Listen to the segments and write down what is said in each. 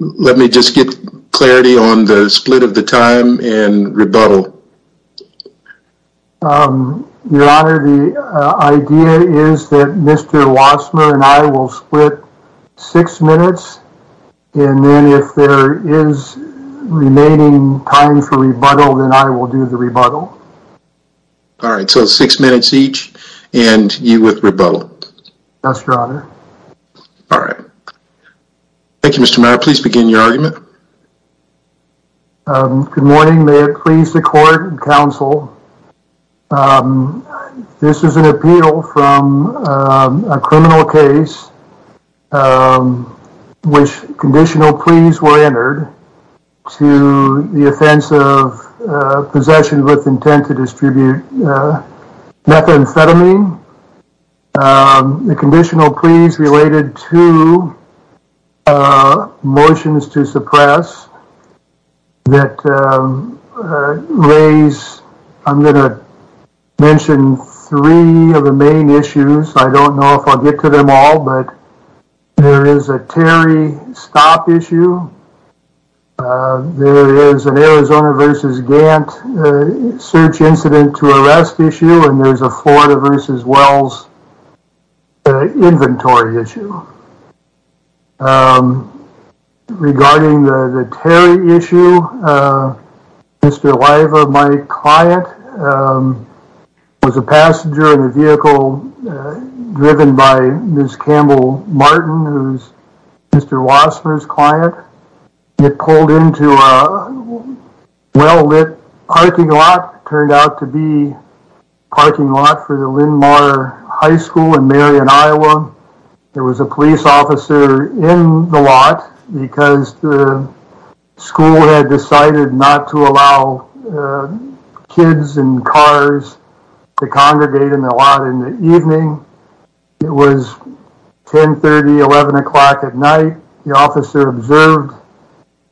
Let me just get clarity on the split of the time and rebuttal Your honor the idea is that mr. Wassmer and I will split six minutes and then if there is Remaining time for rebuttal then I will do the rebuttal All right, so six minutes each and you with rebuttal. Yes, your honor All right Thank You, mr. Mayor, please begin your argument Good morning, may it please the court and counsel This is an appeal from a criminal case Which conditional pleas were entered to the offense of possession with intent to distribute Methamphetamine The conditional pleas related to Motions to suppress that Raise I'm gonna Mention three of the main issues. I don't know if I'll get to them all but There is a Terry stop issue There is an Arizona vs. Gantt Search incident to arrest issue and there's a Florida vs. Wells Inventory issue Regarding the Terry issue Mr. Liva my client Was a passenger in the vehicle Driven by miss Campbell Martin who's mr. Wassmer's client it pulled into a Well-lit parking lot turned out to be Parking lot for the Linmar High School in Marion, Iowa there was a police officer in the lot because the School had decided not to allow kids and cars to congregate in the lot in the evening it was 10 30 11 o'clock at night the officer observed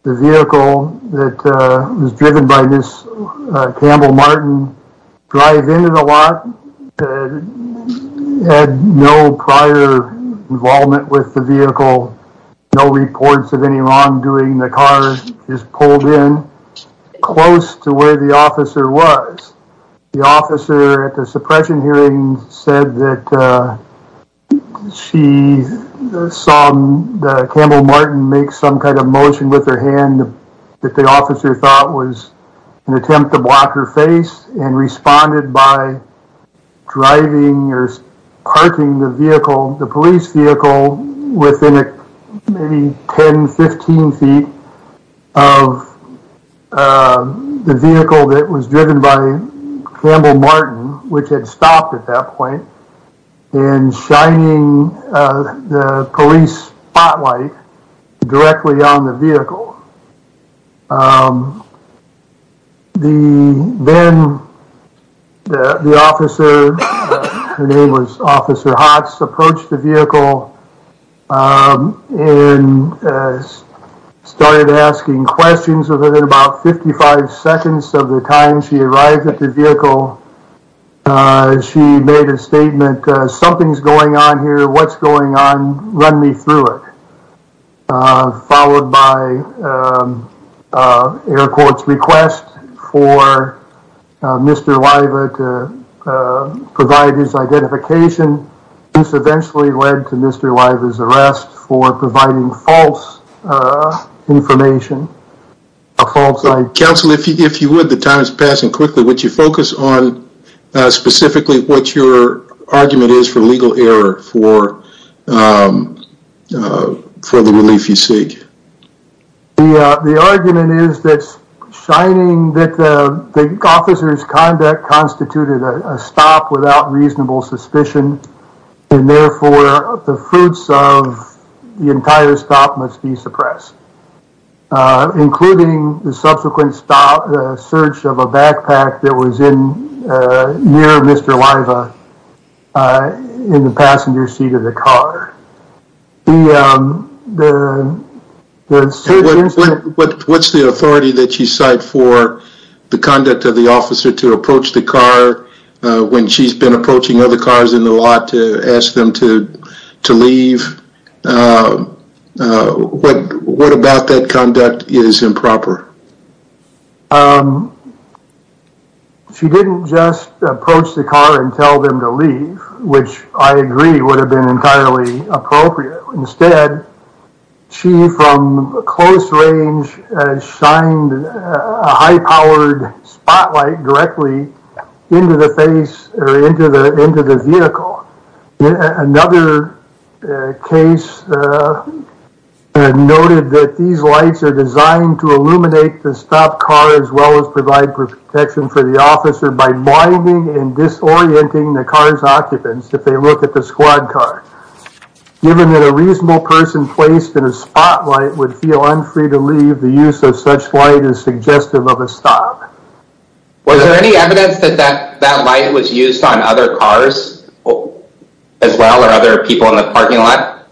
the vehicle that Was driven by this Campbell Martin drive into the lot Had no prior Involvement with the vehicle no reports of any wrongdoing the car is pulled in Close to where the officer was the officer at the suppression hearing said that She Saw Campbell Martin make some kind of motion with her hand that the officer thought was an attempt to block her face and responded by driving or parking the vehicle the police vehicle within it maybe 10 15 feet of The vehicle that was driven by Campbell Martin which had stopped at that point and Shining the police spotlight directly on the vehicle The then The officer her name was officer hots approached the vehicle and Started asking questions of it in about 55 seconds of the time. She arrived at the vehicle As she made a statement something's going on here what's going on run me through it Followed by Air quotes request for mr. Liva to Provide his identification. This eventually led to mr. Live as arrest for providing false Information a false I counsel if you if you would the time is passing quickly, would you focus on? specifically what your argument is for legal error for For the relief you seek the argument is that Shining that the officers conduct constituted a stop without reasonable suspicion and therefore the fruits of The entire stop must be suppressed Including the subsequent stop search of a backpack that was in near mr. Liva In the passenger seat of the car the What's the authority that you cite for the conduct of the officer to approach the car When she's been approaching other cars in the lot to ask them to to leave What what about that conduct is improper She didn't just approach the car and tell them to leave which I agree would have been entirely appropriate instead She from a close range shined a high-powered spotlight directly Into the face or into the end of the vehicle another Case Noted that these lights are designed to illuminate the stop car as well as provide protection for the officer by blinding and Disorienting the car's occupants if they look at the squad car Given that a reasonable person placed in a spotlight would feel unfree to leave the use of such light is suggestive of a stop Was there any evidence that that that light was used on other cars? As well or other people in the parking lot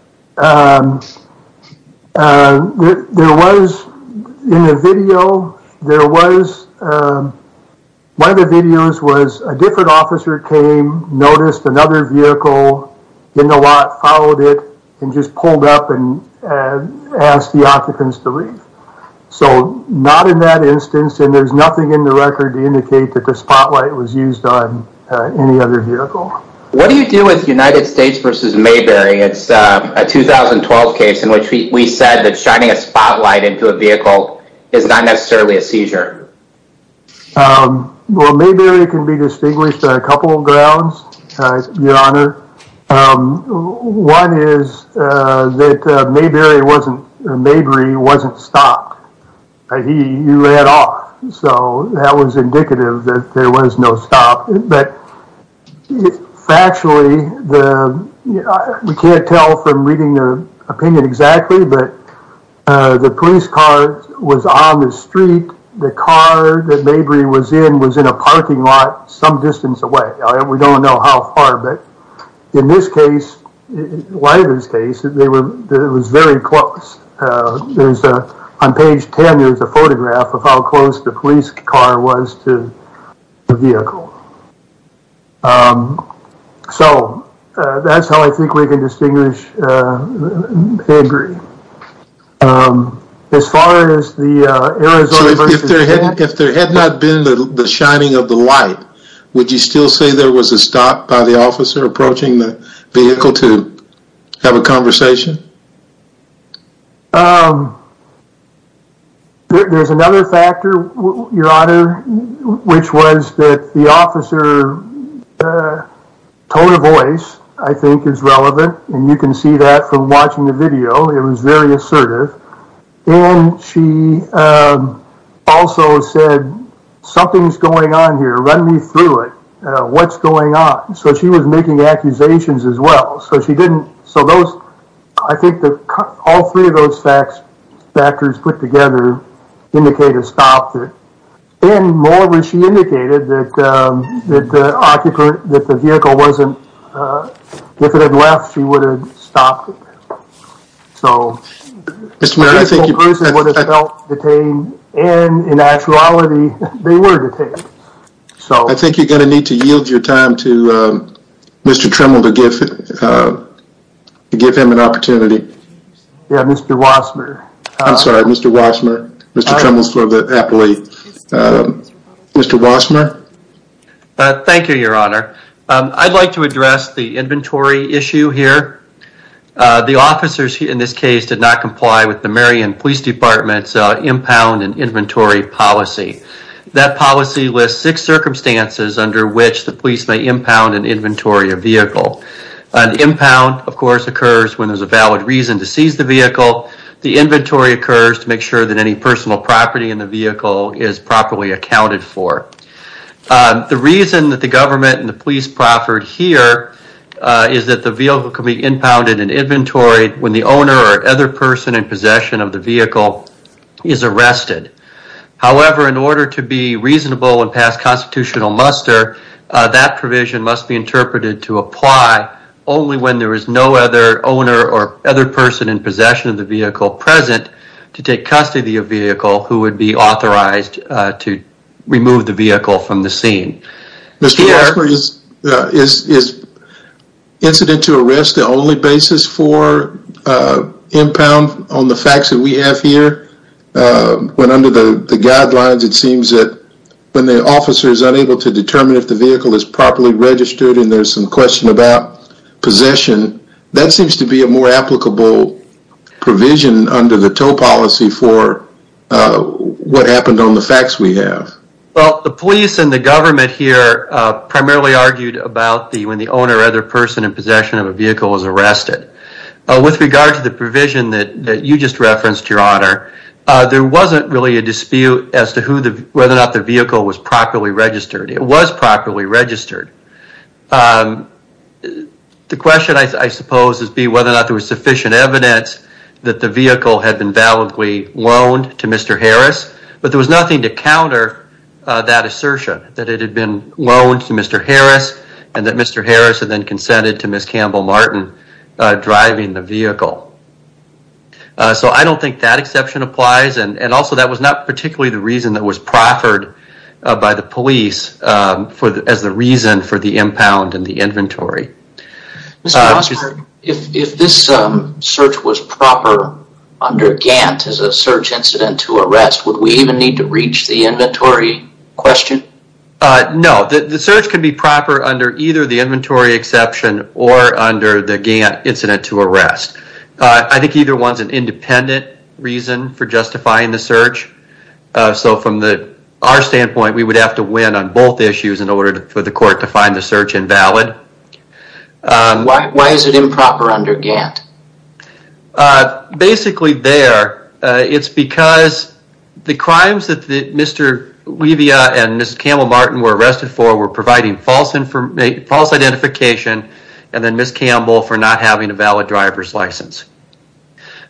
There was in a video there was One of the videos was a different officer came noticed another vehicle in the lot followed it and just pulled up and Asked the occupants to leave So not in that instance and there's nothing in the record to indicate that the spotlight was used on any other vehicle What do you do with the United States versus Mayberry? It's a 2012 case in which we said that shining a spotlight into a vehicle is not necessarily a seizure Well, maybe it can be distinguished by a couple of grounds One is That maybe it wasn't the Mayberry wasn't stopped He you ran off. So that was indicative that there was no stop, but Factually the we can't tell from reading the opinion exactly but The police car was on the street The car that Mayberry was in was in a parking lot some distance away. We don't know how far but in this case Lighters case that they were it was very close There's a on page 10. There's a photograph of how close the police car was to the vehicle So, that's how I think we can distinguish Mayberry As far as the If there had not been the shining of the light Would you still say there was a stop by the officer approaching the vehicle to have a conversation? There's another factor your honor which was that the officer Tone of voice I think is relevant and you can see that from watching the video. It was very assertive and she Also said Something's going on here run me through it. What's going on? So she was making accusations as well So she didn't so those I think that all three of those facts factors put together indicated stopped it and more when she indicated that That the occupant that the vehicle wasn't If it had left she would have stopped so Mr. Mayberry, I think you Detained and in actuality they were detained. So I think you're going to need to yield your time to Mr. Tremble to give To give him an opportunity Yeah, mr. Wassmer. I'm sorry. Mr. Wassmer. Mr. Tremble is for the appellate Mr. Wassmer Thank you, your honor. I'd like to address the inventory issue here The officers in this case did not comply with the Marion Police Department's impound and inventory policy That policy lists six circumstances under which the police may impound an inventory of vehicle An impound of course occurs when there's a valid reason to seize the vehicle The inventory occurs to make sure that any personal property in the vehicle is properly accounted for The reason that the government and the police proffered here Is that the vehicle can be impounded and inventory when the owner or other person in possession of the vehicle is arrested However in order to be reasonable and pass constitutional muster that provision must be interpreted to apply Only when there is no other owner or other person in possession of the vehicle present to take custody of vehicle who would be authorized To remove the vehicle from the scene Mr. Wassmer is Incident to arrest the only basis for Impound on the facts that we have here But under the guidelines, it seems that when the officer is unable to determine if the vehicle is properly registered And there's some question about Possession that seems to be a more applicable provision under the tow policy for What happened on the facts we have well the police and the government here Primarily argued about the when the owner other person in possession of a vehicle is arrested With regard to the provision that you just referenced your honor There wasn't really a dispute as to who the whether or not the vehicle was properly registered. It was properly registered the Question I suppose is be whether or not there was sufficient evidence that the vehicle had been validly loaned to mr. Harris, but there was nothing to counter that Assertion that it had been loaned to mr. Harris and that mr. Harris had then consented to miss Campbell Martin driving the vehicle So I don't think that exception applies and and also that was not particularly the reason that was proffered by the police For the as the reason for the impound and the inventory If this search was proper under Gantt as a search incident to arrest would we even need to reach the inventory? question No, the search can be proper under either the inventory exception or under the Gantt incident to arrest I think either one's an independent reason for justifying the search So from the our standpoint we would have to win on both issues in order for the court to find the search invalid Why is it improper under Gantt? Basically there it's because The crimes that the mr Levia and mr. Campbell Martin were arrested for were providing false information false identification And then miss Campbell for not having a valid driver's license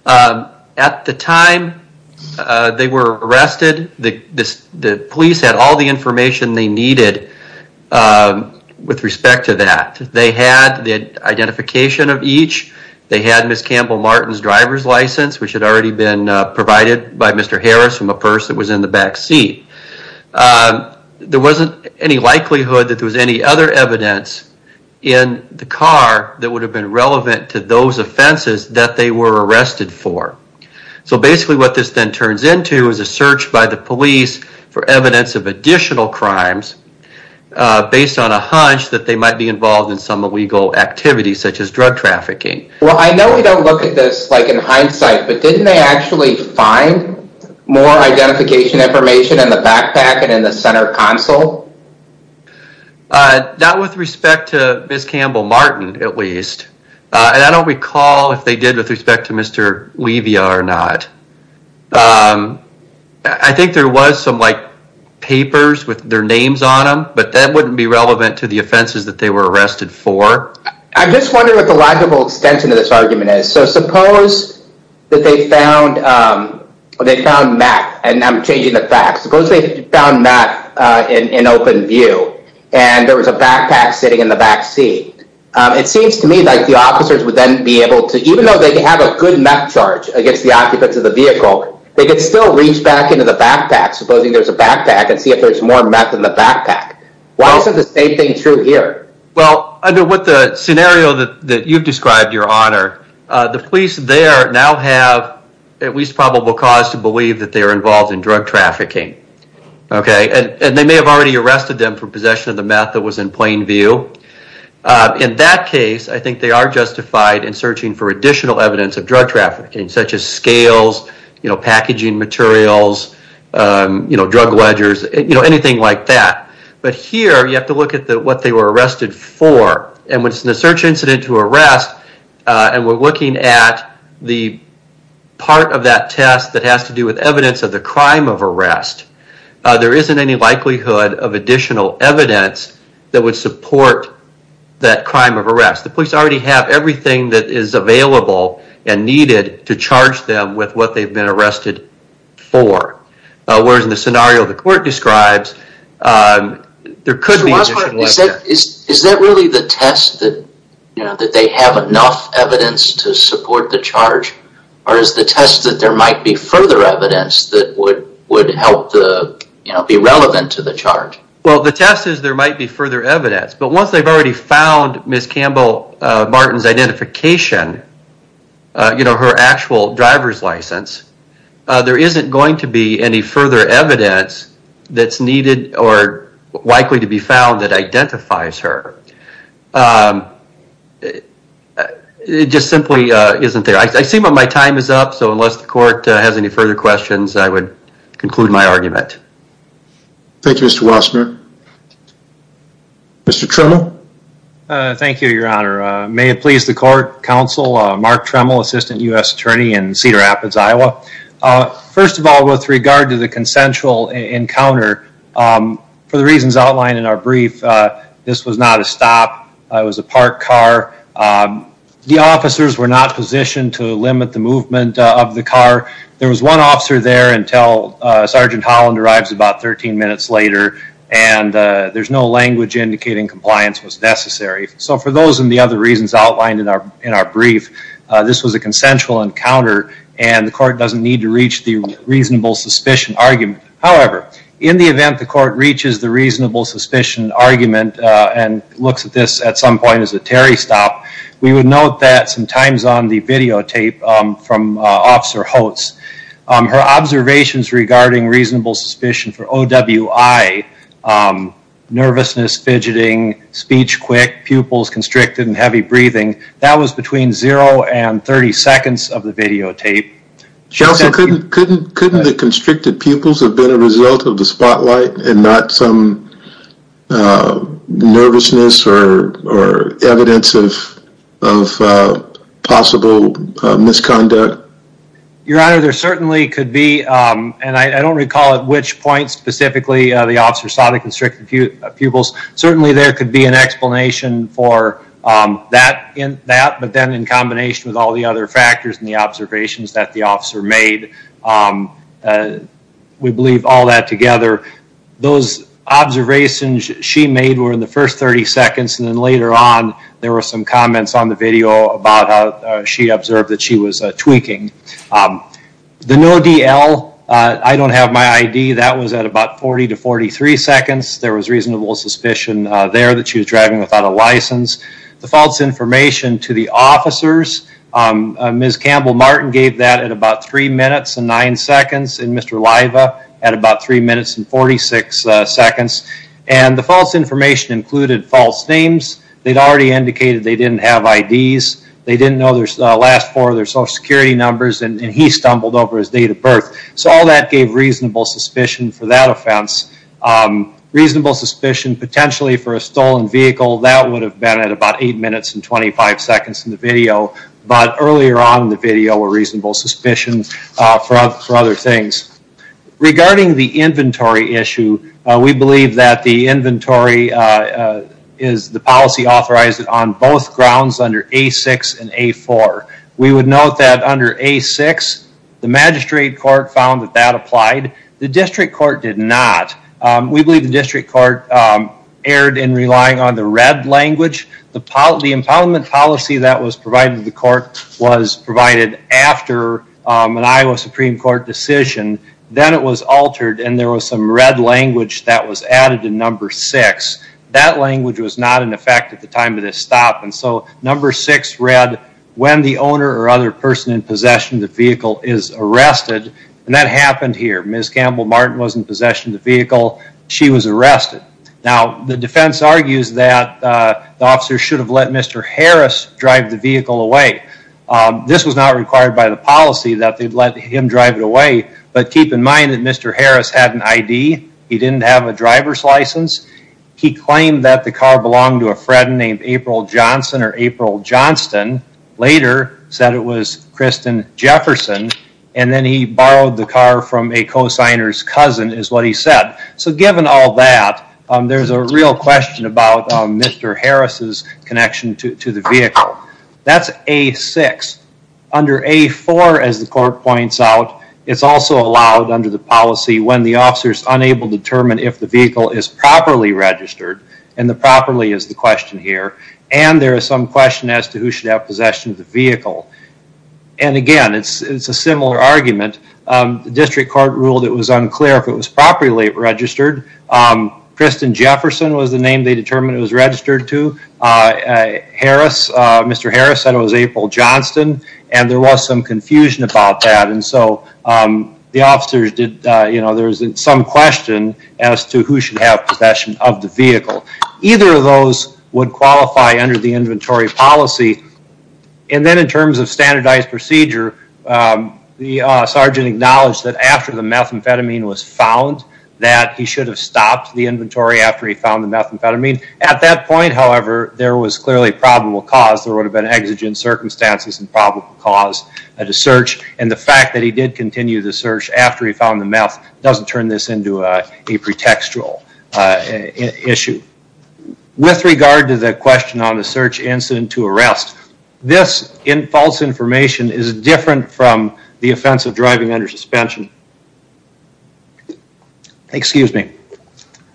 at the time They were arrested the this the police had all the information they needed With respect to that they had the identification of each they had miss Campbell Martin's driver's license Which had already been provided by mr. Harris from a purse that was in the backseat There wasn't any likelihood that there was any other evidence in The car that would have been relevant to those offenses that they were arrested for So basically what this then turns into is a search by the police for evidence of additional crimes Based on a hunch that they might be involved in some illegal activities such as drug trafficking Well, I know we don't look at this like in hindsight, but didn't they actually find? more identification information in the backpack and in the center console Not with respect to miss Campbell Martin at least And I don't recall if they did with respect to mr. Levia or not I think there was some like Papers with their names on them, but that wouldn't be relevant to the offenses that they were arrested for I'm just wondering what the logical extension of this argument is. So suppose that they found They found Mac and I'm changing the facts suppose They found that in an open view and there was a backpack sitting in the backseat It seems to me like the officers would then be able to even though they have a good map charge against the occupants of the Vehicle they could still reach back into the backpack supposing There's a backpack and see if there's more meth in the backpack. Why is it the same thing true here? Well, I know what the scenario that you've described your honor the police there now have At least probable cause to believe that they are involved in drug trafficking Okay, and they may have already arrested them for possession of the meth that was in plain view In that case, I think they are justified in searching for additional evidence of drug trafficking such as scales, you know packaging materials You know drug ledgers, you know anything like that but here you have to look at the what they were arrested for and when it's in the search incident to arrest and we're looking at the Part of that test that has to do with evidence of the crime of arrest There isn't any likelihood of additional evidence that would support That crime of arrest the police already have everything that is available and needed to charge them with what they've been arrested for whereas in the scenario the court describes There could be Is that really the test that you know that they have enough evidence to support the charge? Or is the test that there might be further evidence that would would help the you know be relevant to the charge Well, the test is there might be further evidence, but once they've already found miss Campbell Martin's identification You know her actual driver's license There isn't going to be any further evidence that's needed or likely to be found that identifies her It Just simply isn't there I see what my time is up. So unless the court has any further questions, I would conclude my argument Thank You. Mr. Wasserman Mr. Turner Thank you, Your Honor. May it please the court counsel mark tremble assistant u.s. Attorney and Cedar Rapids, Iowa First of all with regard to the consensual encounter For the reasons outlined in our brief. This was not a stop It was a parked car The officers were not positioned to limit the movement of the car there was one officer there until Sergeant Holland arrives about 13 minutes later and There's no language indicating compliance was necessary. So for those and the other reasons outlined in our in our brief This was a consensual encounter and the court doesn't need to reach the reasonable suspicion argument However in the event the court reaches the reasonable suspicion argument and looks at this at some point as a Terry stop We would note that some times on the videotape from officer Holtz her observations regarding reasonable suspicion for OWI Nervousness fidgeting speech quick pupils constricted and heavy breathing that was between 0 and 30 seconds of the videotape She also couldn't couldn't couldn't the constricted pupils have been a result of the spotlight and not some Nervousness or evidence of possible misconduct Your honor there certainly could be And I don't recall at which point specifically the officer saw the constricted pupils. Certainly there could be an explanation for That in that but then in combination with all the other factors and the observations that the officer made We believe all that together those Observations she made were in the first 30 seconds and then later on there were some comments on the video about how she observed that She was tweaking The no DL. I don't have my ID that was at about 40 to 43 seconds There was reasonable suspicion there that she was driving without a license the false information to the officers Ms. Campbell Martin gave that at about three minutes and nine seconds and mr. Liva at about three minutes and 46 seconds and the false information included false names They'd already indicated. They didn't have IDs They didn't know there's the last four of their social security numbers and he stumbled over his date of birth So all that gave reasonable suspicion for that offense Reasonable suspicion potentially for a stolen vehicle that would have been at about eight minutes and 25 seconds in the video But earlier on the video were reasonable suspicions for us for other things Regarding the inventory issue. We believe that the inventory Is the policy authorized it on both grounds under a six and a four? We would note that under a six the magistrate court found that that applied the district court did not We believe the district court Erred in relying on the red language the policy impoundment policy that was provided the court was provided after An Iowa Supreme Court decision then it was altered and there was some red language that was added in number six That language was not in effect at the time of this stop And so number six read when the owner or other person in possession the vehicle is arrested and that happened here Ms. Campbell Martin was in possession of the vehicle. She was arrested now the defense argues that The officer should have let mr. Harris drive the vehicle away This was not required by the policy that they'd let him drive it away, but keep in mind that mr. Harris had an ID He didn't have a driver's license He claimed that the car belonged to a friend named April Johnson or April Johnston Later said it was Kristen Jefferson And then he borrowed the car from a co-signers cousin is what he said so given all that There's a real question about mr. Harris's connection to the vehicle. That's a six Under a four as the court points out It's also allowed under the policy when the officers unable to determine if the vehicle is properly Registered and the properly is the question here, and there is some question as to who should have possession of the vehicle and Again, it's it's a similar argument The district court ruled it was unclear if it was properly registered Kristen Jefferson was the name they determined it was registered to Harris mr. Harris said it was April Johnston, and there was some confusion about that and so The officers did you know there's some question as to who should have possession of the vehicle either of those Would qualify under the inventory policy and then in terms of standardized procedure The sergeant acknowledged that after the methamphetamine was found That he should have stopped the inventory after he found the methamphetamine at that point however there was clearly probable cause there would have been Exigent circumstances and probable cause at a search and the fact that he did continue the search after he found the meth doesn't turn this into a pretextual issue With regard to the question on the search incident to arrest this in false information is different from the offense of driving under suspension Excuse me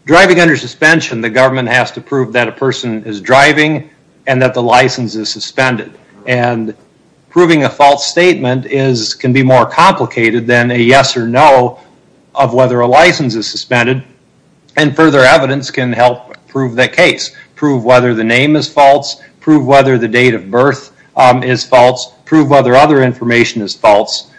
Driving under suspension the government has to prove that a person is driving and that the license is suspended and proving a false statement is can be more complicated than a yes or no of Whether a license is suspended and further evidence can help prove that case prove whether the name is false Prove whether the date of birth is false prove whether other information is false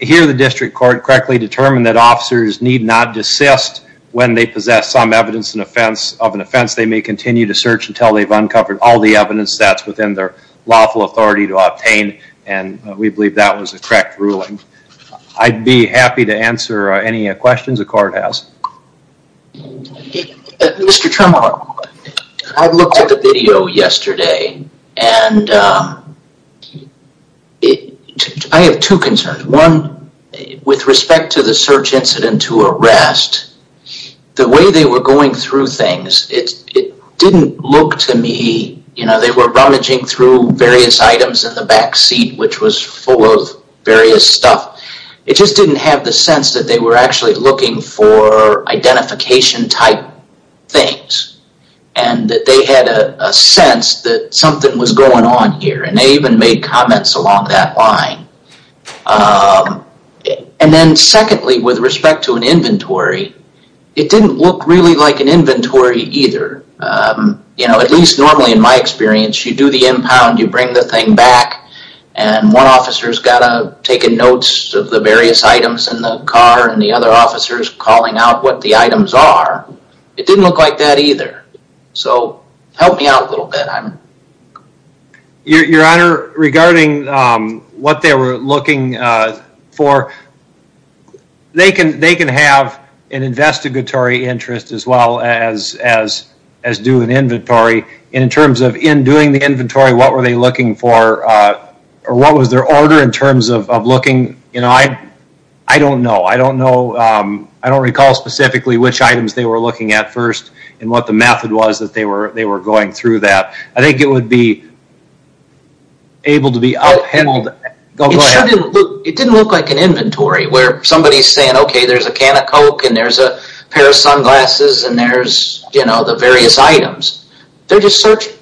Here the district court correctly determined that officers need not desist when they possess some evidence in offense of an offense they may continue to search until they've uncovered all the evidence that's within their lawful authority to obtain and We believe that was a correct ruling. I'd be happy to answer any questions the court has Mr. Tremont I've looked at the video yesterday and I Have two concerns one with respect to the search incident to arrest The way they were going through things it didn't look to me You know, they were rummaging through various items in the backseat, which was full of various stuff It just didn't have the sense that they were actually looking for identification type things and They had a sense that something was going on here and they even made comments along that line And then secondly with respect to an inventory it didn't look really like an inventory either you know at least normally in my experience you do the impound you bring the thing back and One officers got a taken notes of the various items in the car and the other officers calling out what the items are It didn't look like that either So help me out a little bit Your honor regarding what they were looking for They can they can have an Investigatory interest as well as as as do an inventory in terms of in doing the inventory. What were they looking for? Or what was their order in terms of looking? You know, I I don't know I don't recall specifically which items they were looking at first and what the method was that they were they were going through that I think it would be Able to be out hand It didn't look like an inventory where somebody's saying, okay There's a can of coke and there's a pair of sunglasses and there's you know, the various items. They're just searching.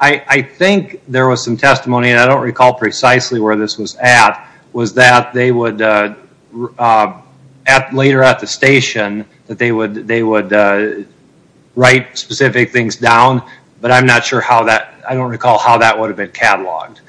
I Think there was some testimony and I don't recall precisely where this was at was that they would At later at the station that they would they would Write specific things down, but I'm not sure how that I don't recall how that would have been catalogued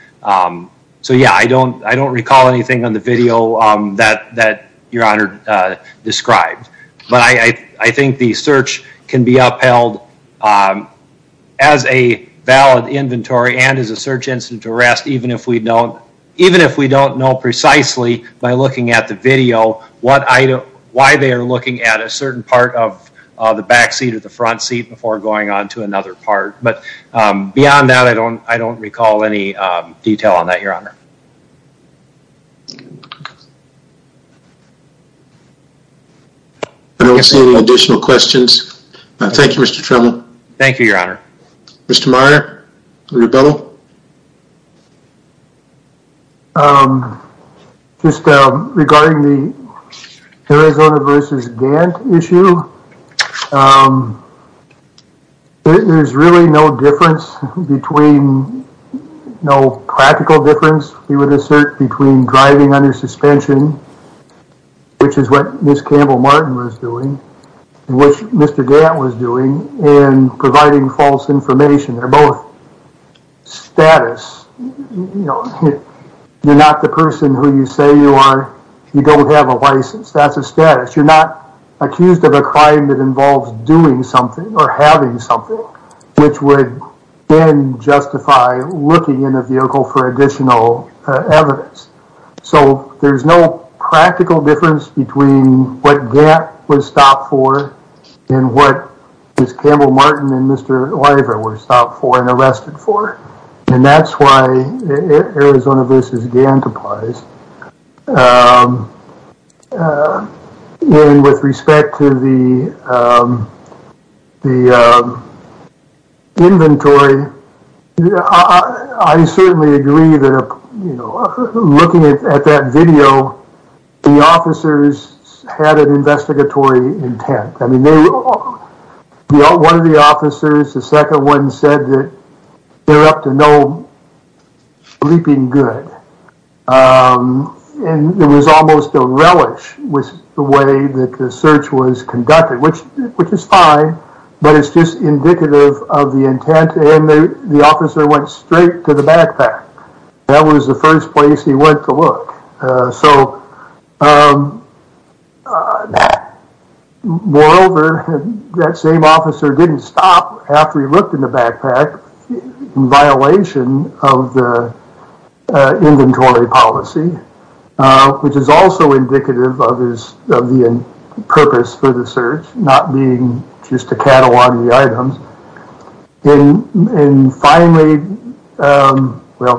So yeah, I don't I don't recall anything on the video that that your honor Described but I I think the search can be upheld as a Valid inventory and as a search incident arrest even if we don't even if we don't know precisely by looking at the video what I know why they are looking at a certain part of The back seat of the front seat before going on to another part, but beyond that I don't I don't recall any Detail on that your honor I Don't see any additional questions. Thank you. Mr. Trimble. Thank you. Your honor. Mr. Meyer Just regarding the Arizona vs. Gantt issue There's really no difference between No practical difference we would assert between driving under suspension Which is what miss Campbell Martin was doing which mr. Gantt was doing and providing false information. They're both status You're not the person who you say you are you don't have a license that's a status You're not accused of a crime that involves doing something or having something which would then justify looking in a vehicle for additional evidence, so there's no practical difference between What Gantt was stopped for and what is Campbell Martin and mr. Oliver were stopped for and arrested for and that's why Arizona vs. Gantt applies With respect to the The Inventory I certainly agree that Looking at that video the officers Had an investigatory intent. I mean they Know one of the officers the second one said that they're up to no Leaping good And it was almost a relish with the way that the search was conducted which which is fine But it's just indicative of the intent and the officer went straight to the backpack That was the first place. He went to look so Moreover that same officer didn't stop after he looked in the backpack Violation of the Inventory policy Which is also indicative others of the purpose for the search not being just a cattle on the items in finally Thank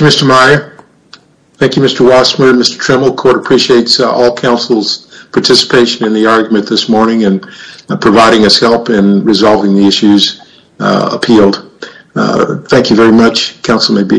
You, mr. Meyer Thank You. Mr. Wasserman. Mr. Tremble court appreciates all councils Participation in the argument this morning and providing us help in resolving the issues appealed Thank you very much council may be excused